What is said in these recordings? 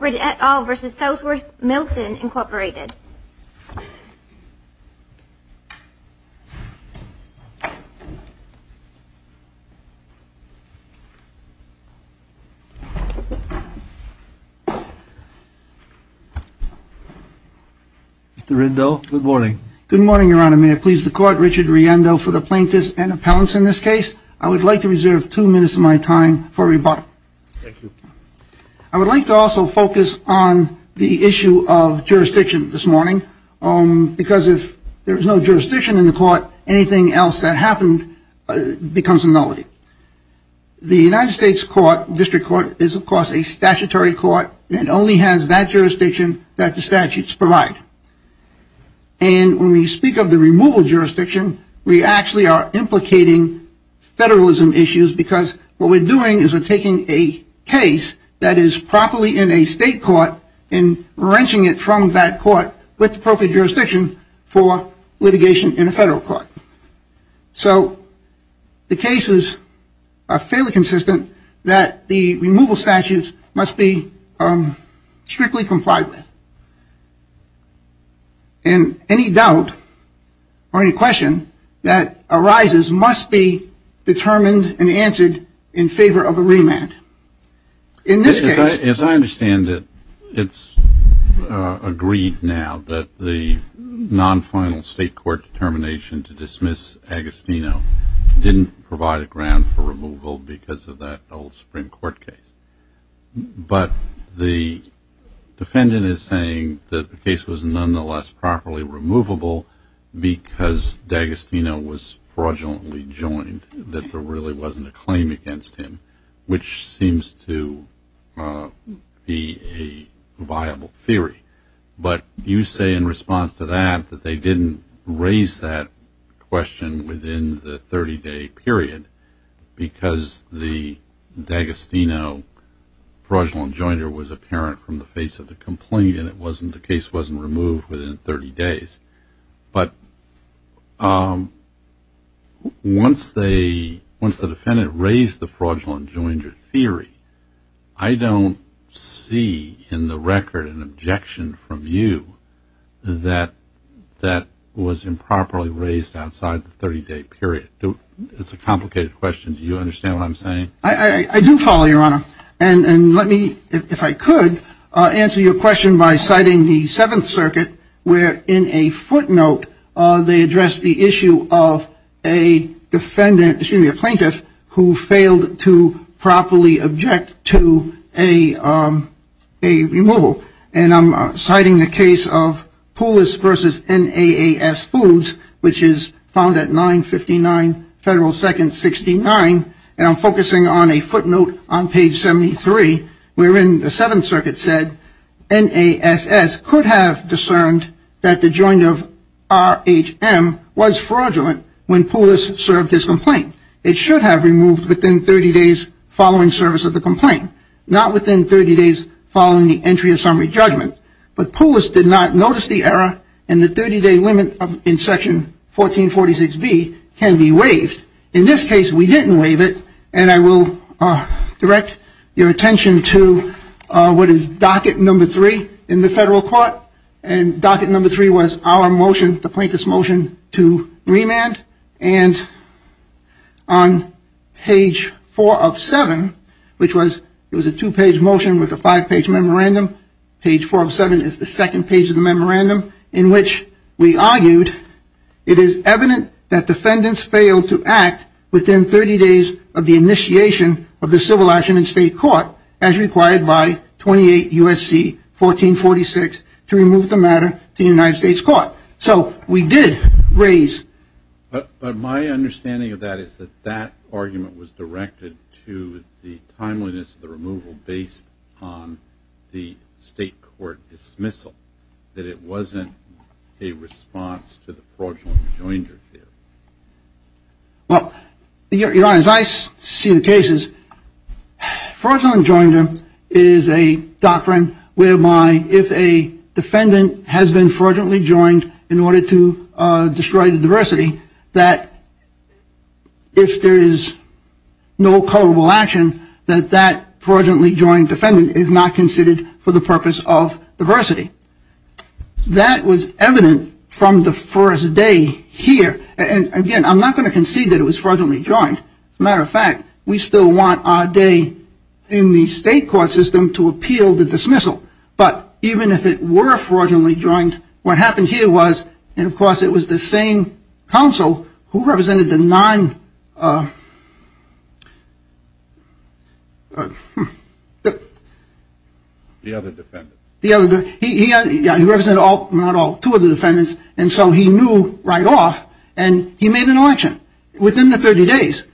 Mr. Riendo, good morning. Good morning, Your Honor. May I please the Court, Richard Riendo, for the plaintiffs and appellants in this case? I would like to reserve two minutes of my time for rebuttal. Thank you. I would like to also focus on the issue of jurisdiction this morning, because if there is no jurisdiction in the Court, anything else that happened becomes a nullity. The United States District Court is, of course, a statutory court and only has that jurisdiction that the statutes provide. And when we speak of the removal of jurisdiction, we actually are implicating federalism issues, because what we're doing is we're taking a case that is properly in a state court and wrenching it from that court with appropriate jurisdiction for litigation in a federal court. So the cases are fairly question that arises must be determined and answered in favor of a remand. In this case, as I understand it, it's agreed now that the non-final state court determination to dismiss Agostino didn't provide a ground for removal because of that old Supreme Court case. But the defendant is saying that the case was nonetheless properly removable because D'Agostino was fraudulently joined, that there really wasn't a claim against him, which seems to be a viable theory. But you say in response to that that they didn't raise that question within the 30-day period because the D'Agostino fraudulent joinder was apparent from the face of the complaint and the case wasn't removed within 30 days. But once the defendant raised the fraudulent joinder theory, I don't see in the record an objection from you that that is improperly raised outside the 30-day period. It's a complicated question. Do you understand what I'm saying? I do follow, Your Honor. And let me, if I could, answer your question by citing the Seventh Circuit where in a footnote they address the issue of a plaintiff who failed to properly object to a removal. And I'm citing the case of Poolis v. NAAS Foods, which is found at 959 Federal 2nd 69. And I'm focusing on a footnote on page 73, where in the Seventh Circuit said, NASS could have discerned that the joinder of RHM was fraudulent when Poolis served his complaint. It should have been removed within 30 days following service of the complaint, not within 30 days following the entry of summary judgment. But Poolis did not notice the error and the 30-day limit in Section 1446B can be waived. In this case, we didn't waive it. And I will direct your attention to what is docket number three in our motion, the plaintiff's motion to remand. And on page four of seven, which was a two-page motion with a five-page memorandum. Page four of seven is the second page of the memorandum in which we argued, it is evident that defendants failed to act within 30 days of the initiation of the civil action in state court as required by 28 U.S.C. 1446 to remove the matter to the United States court. So we did raise. But my understanding of that is that that argument was directed to the timeliness of the removal based on the state court dismissal, that it wasn't a response to the fraudulent joinder theory. Well, Your Honor, as I see the cases, fraudulent joinder is a doctrine whereby if a defendant has been fraudulently joined in order to destroy the diversity, that if there is no culpable action that that fraudulently joined defendant is not considered for the purpose of diversity. That was evident from the first day here. And again, I'm not going to concede that it was fraudulently joined. As a matter of fact, we still want our day in the state court system to appeal the dismissal. But even if it were fraudulently joined, what happened here was, and of course it was the same counsel who represented the nine. The other defendants. The other defendants. He represented all, not all, two of the defendants. And so he knew right off, and he made an election. Within the 30 days,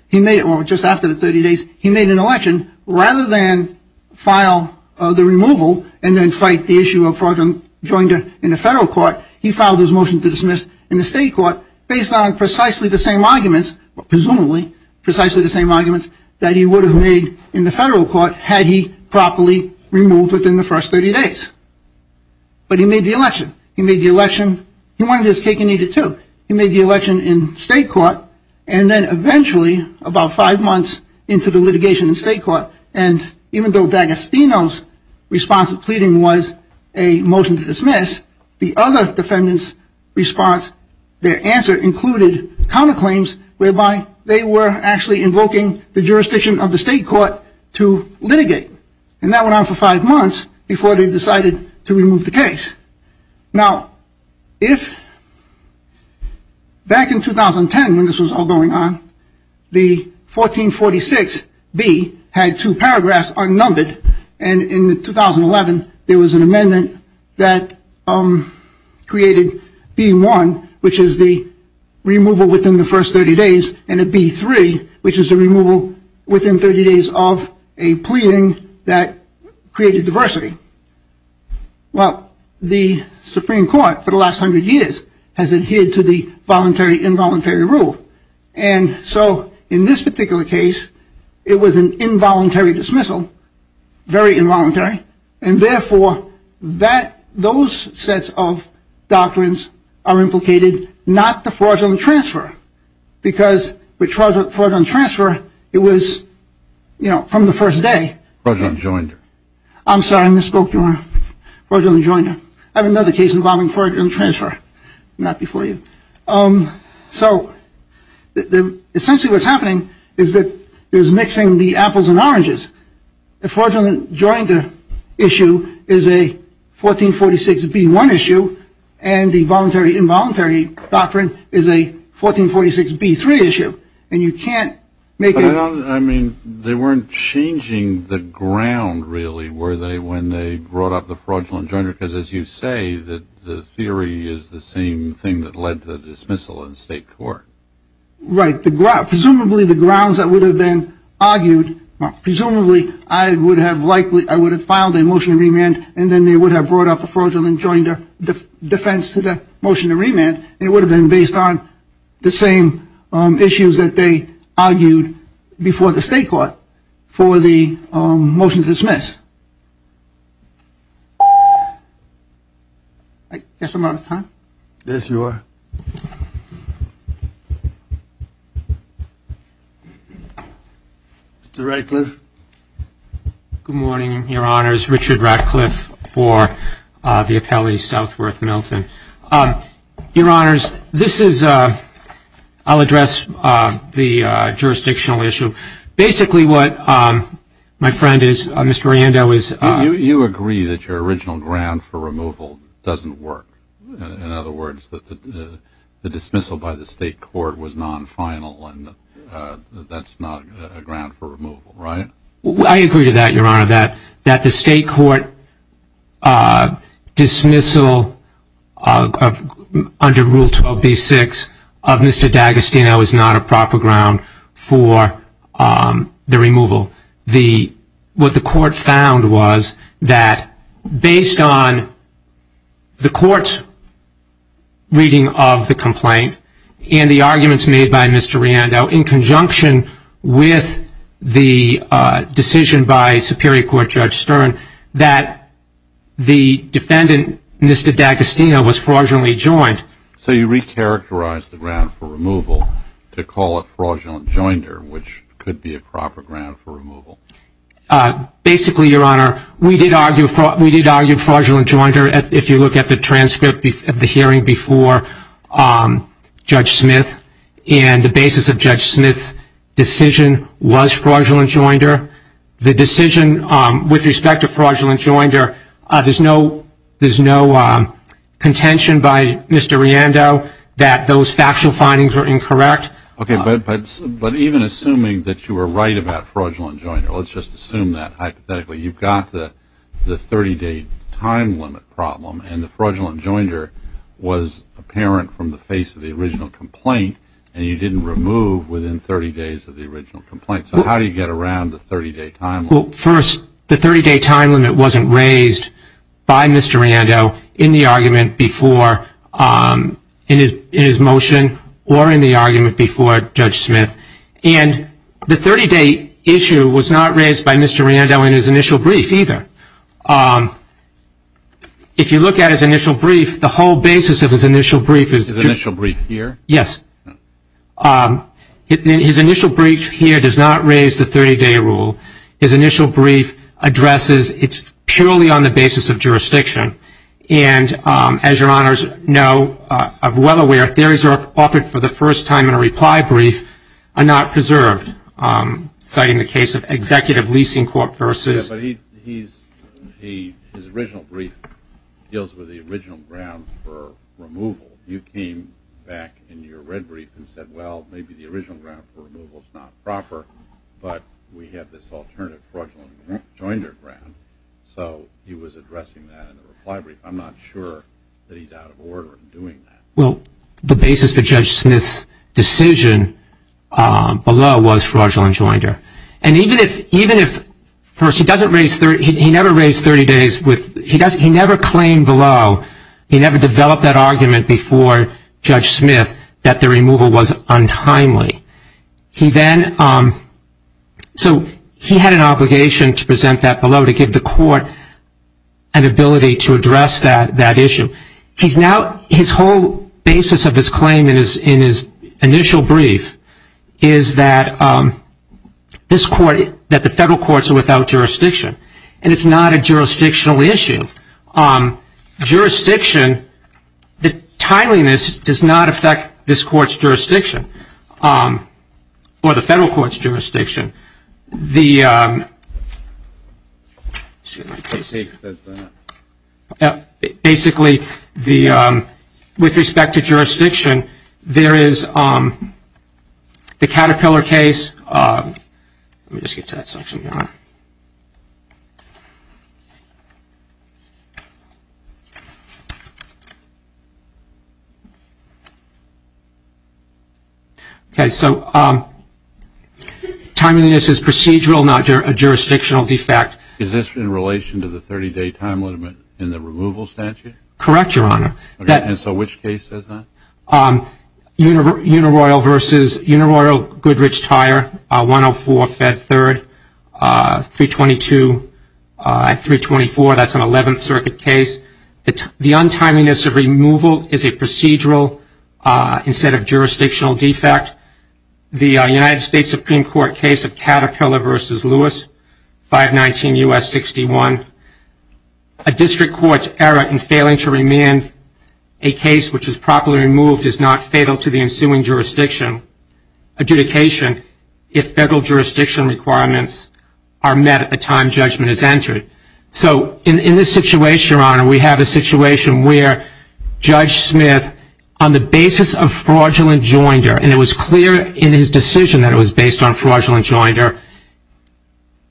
or just after the 30 days, he made an election. Rather than file the removal and then fight the issue of fraudulent joinder in the federal court, he filed his motion to dismiss in the state court based on precisely the same arguments, presumably precisely the same arguments, that he would have made in the federal court had he properly removed within the first 30 days. But he made the election. He made the election. He wanted his cake and eat it, too. He made the election in state court. And then eventually, about five months into the litigation in state court, and even though D'Agostino's response to pleading was a motion to dismiss, the other defendants' response, their answer included counterclaims whereby they were actually invoking the jurisdiction of the state court to litigate. And that went on for five months before they decided to Now, if back in 2010, when this was all going on, the 1446B had two paragraphs unnumbered, and in 2011, there was an amendment that created B1, which is the removal within the first 30 days, and a B3, which is the removal within 30 days of a pleading that created diversity. Well, the Supreme Court, for the last 100 years, has adhered to the voluntary-involuntary rule. And so, in this particular case, it was an involuntary dismissal, very involuntary, and therefore, that, those sets of doctrines are implicated, not the fraudulent transfer, because with fraudulent transfer, it was, you know, from the first day. Fraudulent joinder. I'm sorry, I misspoke, Your Honor. Fraudulent joinder. I have another case involving fraudulent transfer. Not before you. So, essentially what's happening is that there's mixing the apples and oranges. The fraudulent joinder issue is a 1446B1 issue, and the voluntary-involuntary doctrine is a 1446B3 issue, and you can't make a... Well, I mean, they weren't changing the ground, really, were they, when they brought up the fraudulent joinder? Because, as you say, the theory is the same thing that led to the dismissal in state court. Right. Presumably, the grounds that would have been argued, presumably, I would have likely, I would have filed a motion to remand, and then they would have brought up a fraudulent joinder defense to the motion to remand, and it would have been based on the same issues that they argued before the state court for the motion to dismiss. I guess I'm out of time. Yes, you are. Mr. Ratcliffe. Good morning, Your Honors. Richard Ratcliffe for the Appellate Southworth Milton. Your Honors, this is, I'll address the jurisdictional issue. Basically, what my friend is, Mr. Riando, is... You agree that your original ground for removal doesn't work. In other words, the dismissal by the state court was non-final, and that's not a ground for removal, right? I agree to that, Your Honor, that the state court dismissal under Rule 12b-6 of Mr. D'Agostino is not a proper ground for the removal. What the court found was that based on the court's reasoning of the complaint, and the arguments made by Mr. Riando in conjunction with the decision by Superior Court Judge Stern, that the defendant, Mr. D'Agostino, was fraudulently joined. So you re-characterized the ground for removal to call it fraudulent joinder, which could be a proper ground for removal? Basically, Your Honor, we did argue fraudulent joinder. If you look at the transcript of the hearing before Judge Smith, and the basis of Judge Smith's decision was fraudulent joinder, the decision with respect to fraudulent joinder, there's no contention by Mr. Riando that those factual findings are incorrect. But even assuming that you were right about fraudulent joinder, let's just assume that you've got the 30-day time limit problem, and the fraudulent joinder was apparent from the face of the original complaint, and you didn't remove within 30 days of the original complaint. So how do you get around the 30-day time limit? Well, first, the 30-day time limit wasn't raised by Mr. Riando in the argument before, in his motion, or in the argument before Judge Smith. And the 30-day issue was not raised by Mr. Riando in his initial brief, either. If you look at his initial brief, the whole basis of his initial brief is... His initial brief here? Yes. His initial brief here does not raise the 30-day rule. His initial brief addresses it's purely on the basis of jurisdiction. And as Your Honors know, I'm well aware, theories are offered for the first time in a reply brief are not preserved, citing the case of Executive Leasing Corp. versus... Yes, but his original brief deals with the original ground for removal. You came back in your red brief and said, well, maybe the original ground for removal is not proper, but we have this alternative fraudulent joinder ground. So he was addressing that in a reply brief. I'm not sure that he's out of order in doing that. The basis for Judge Smith's decision below was fraudulent joinder. And even if... First, he never raised 30 days with... He never claimed below. He never developed that argument before Judge Smith that the removal was untimely. So he had an obligation to present that below to give the court an ability to address that issue. His whole basis of his claim in his initial brief is that the federal courts are without jurisdiction. And it's not a jurisdictional issue. Jurisdiction, the timeliness does not affect this court's jurisdiction or the federal court's jurisdiction. Basically, with respect to jurisdiction, there is the Caterpillar case... Let me just get to that section here. Okay, so timeliness is procedural, not a jurisdictional defect. Is this in relation to the 30-day time limit in the removal statute? Correct, Your Honor. And so which case is that? Unaroyal versus Unaroyal-Goodrich-Tyre, 104-Fed 3rd, 322-324. That's an 11th Circuit case. The untimeliness of removal is a procedural instead of jurisdictional defect. The United States v. U.S. 61, a district court's error in failing to remand a case which is properly removed is not fatal to the ensuing jurisdiction adjudication if federal jurisdiction requirements are met at the time judgment is entered. So in this situation, Your Honor, we have a situation where Judge Smith, on the basis of fraudulent joinder, and it was clear in his decision that it was based on fraudulent joinder,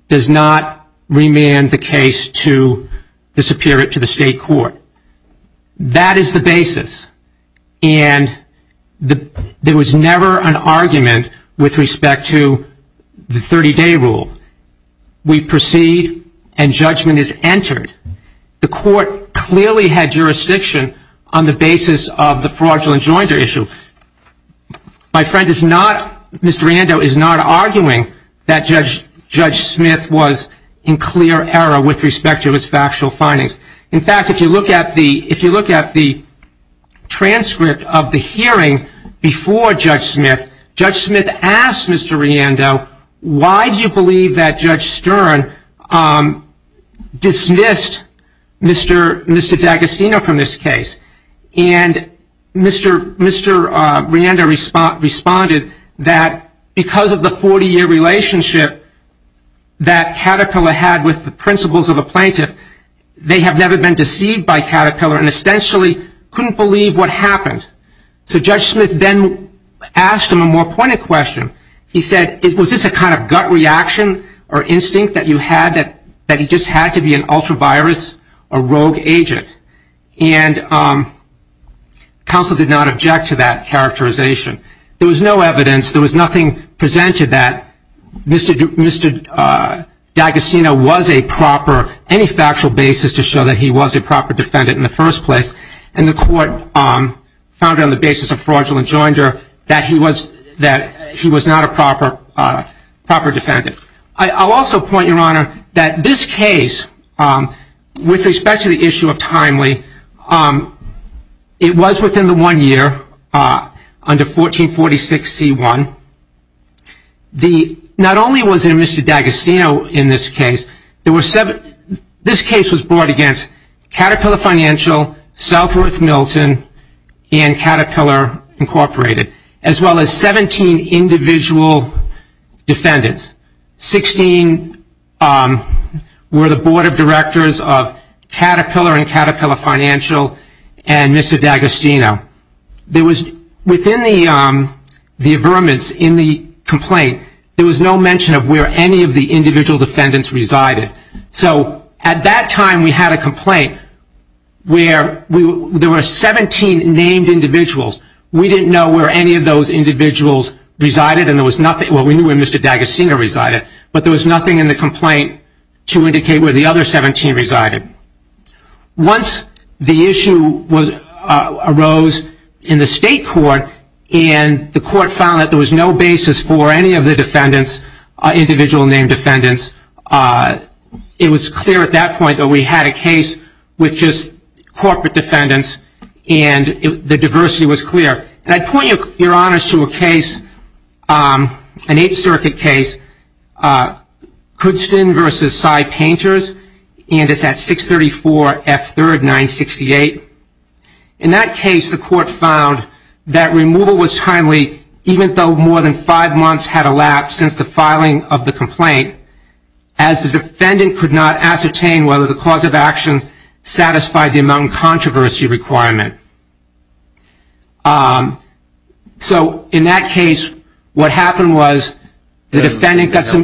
that he would not remand the case to the state court. That is the basis. And there was never an argument with respect to the 30-day rule. We proceed and judgment is entered. The court clearly had jurisdiction on the basis of the fraudulent joinder issue. My friend is not, Mr. Riando, is not arguing that Judge Smith was in clear error with respect to his factual findings. In fact, if you look at the transcript of the hearing before Judge Smith, Judge Smith asked Mr. Riando, why do you believe that Judge Stern dismissed Mr. D'Agostino from this case? And Mr. Riando responded that because of the 40-year relationship that Caterpillar had with the principals of the plaintiff, they have never been deceived by Caterpillar and essentially couldn't believe what happened. So Judge Smith then asked him a more pointed question. He said, was this a kind of gut reaction or instinct that you had with respect to the agent? And counsel did not object to that characterization. There was no evidence. There was nothing presented that Mr. D'Agostino was a proper, any factual basis to show that he was a proper defendant in the first place. And the court found on the basis of fraudulent joinder that he was not a proper defendant. I'll also point, Your Honor, to the issue of timely. It was within the one year under 1446C1. Not only was it Mr. D'Agostino in this case, this case was brought against Caterpillar Financial, Southworth Milton, and Caterpillar Incorporated, as well as 17 individual defendants. 16 were the board directors of Caterpillar and Caterpillar Financial and Mr. D'Agostino. There was, within the averments in the complaint, there was no mention of where any of the individual defendants resided. So at that time we had a complaint where there were 17 named individuals. We didn't know where any of those individuals resided and there was nothing, well we knew where Mr. D'Agostino resided, but there was nothing in the complaint to indicate where the other 17 resided. Once the issue arose in the state court and the court found that there was no basis for any of the defendants, individual named defendants, it was clear at that point that we had a case with just corporate defendants and the diversity was clear. And I'd point, Your Honor, to a case, an Eighth Circuit case, Kudstin v. Side Painters and it's at 634 F. 3rd, 968. In that case, the court found that removal was timely, even though more than five months had elapsed since the filing of the complaint, as the defendant could not ascertain whether the cause of action satisfied the amount of controversy requirement. So in that case, what happened was the defendant got some...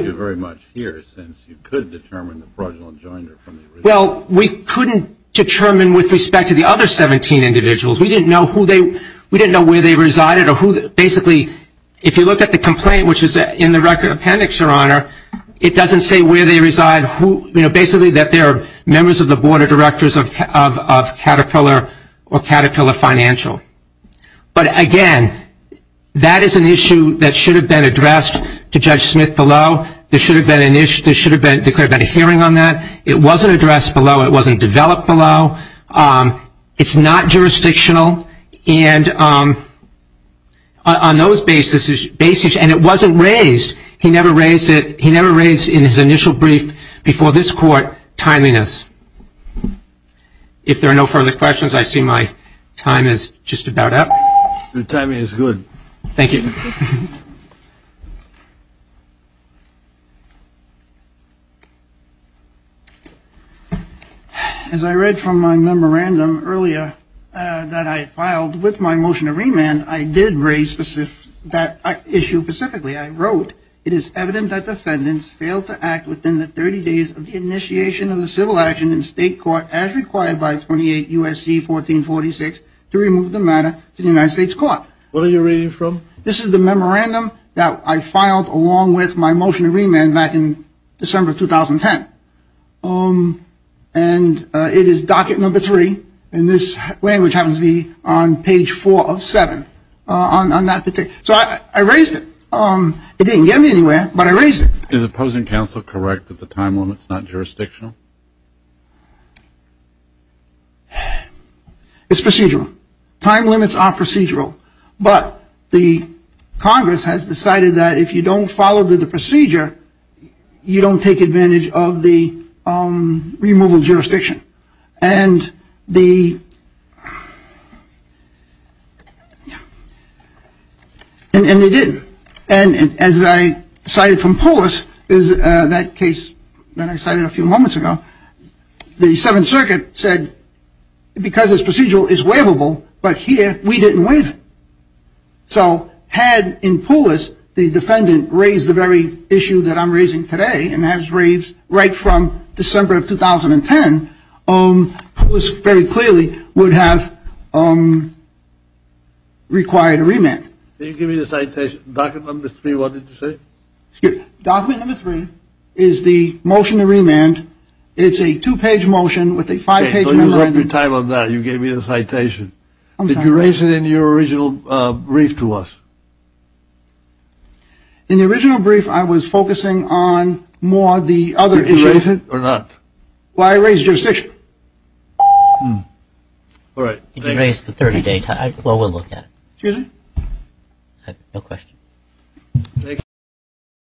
Well, we couldn't determine with respect to the other 17 individuals. We didn't know where they resided or who, basically, if you look at the complaint, which is in the record appendix, Your Honor, it doesn't say where they reside, basically that they're members of the board of directors of Caterpillar or Caterpillar Financial. But again, that is an issue that should have been addressed to Judge Smith below. There should have been a hearing on that. It wasn't addressed below. It wasn't developed below. It's not jurisdictional. And on those basis, and it wasn't raised, he never raised it in his initial brief before this court, timeliness. If there are no further questions, I see my time is just about up. Your timing is good. Thank you. As I read from my memorandum earlier that I filed with my motion to remand, I did raise specific... that issue specifically. I wrote, it is evident that defendants failed to act within the 30 days of the initiation of the civil action in state court as required by 28 U.S.C. 1446 to remove the matter to the United States court. What are you reading from? This is the memorandum that I filed along with my motion to remand back in December 2010. And it is docket number three. And this language happens to be on page four of seven on that particular... So I raised it. It didn't get me anywhere, but I raised it. Is opposing counsel correct that the time limit is not jurisdictional? It is procedural. Time limits are procedural. But the Congress has decided that if you don't follow the procedure, you don't take advantage of the removal of jurisdiction. And the... And they did. And as I cited from Poulos, that case that I cited a few moments ago, the Seventh Circuit said, because this procedural is waivable, but here we didn't waive it. So had in Poulos, the defendant raised the very issue that I'm raising today, and has raised right from December of 2010, Poulos very clearly would have required a remand. Can you give me the citation? Docket number three, what did you say? Docket number three is the motion to remand. It's a two-page motion with a five-page... Okay, don't use up your time on that. You gave me the citation. I'm sorry. Did you raise it in your original brief to us? In the original brief, I was focusing on more the other issue. Did you raise it or not? Well, I raised jurisdiction. All right. Did you raise the 30-day time? Well, we'll look at it. Excuse me? No question. Thank you.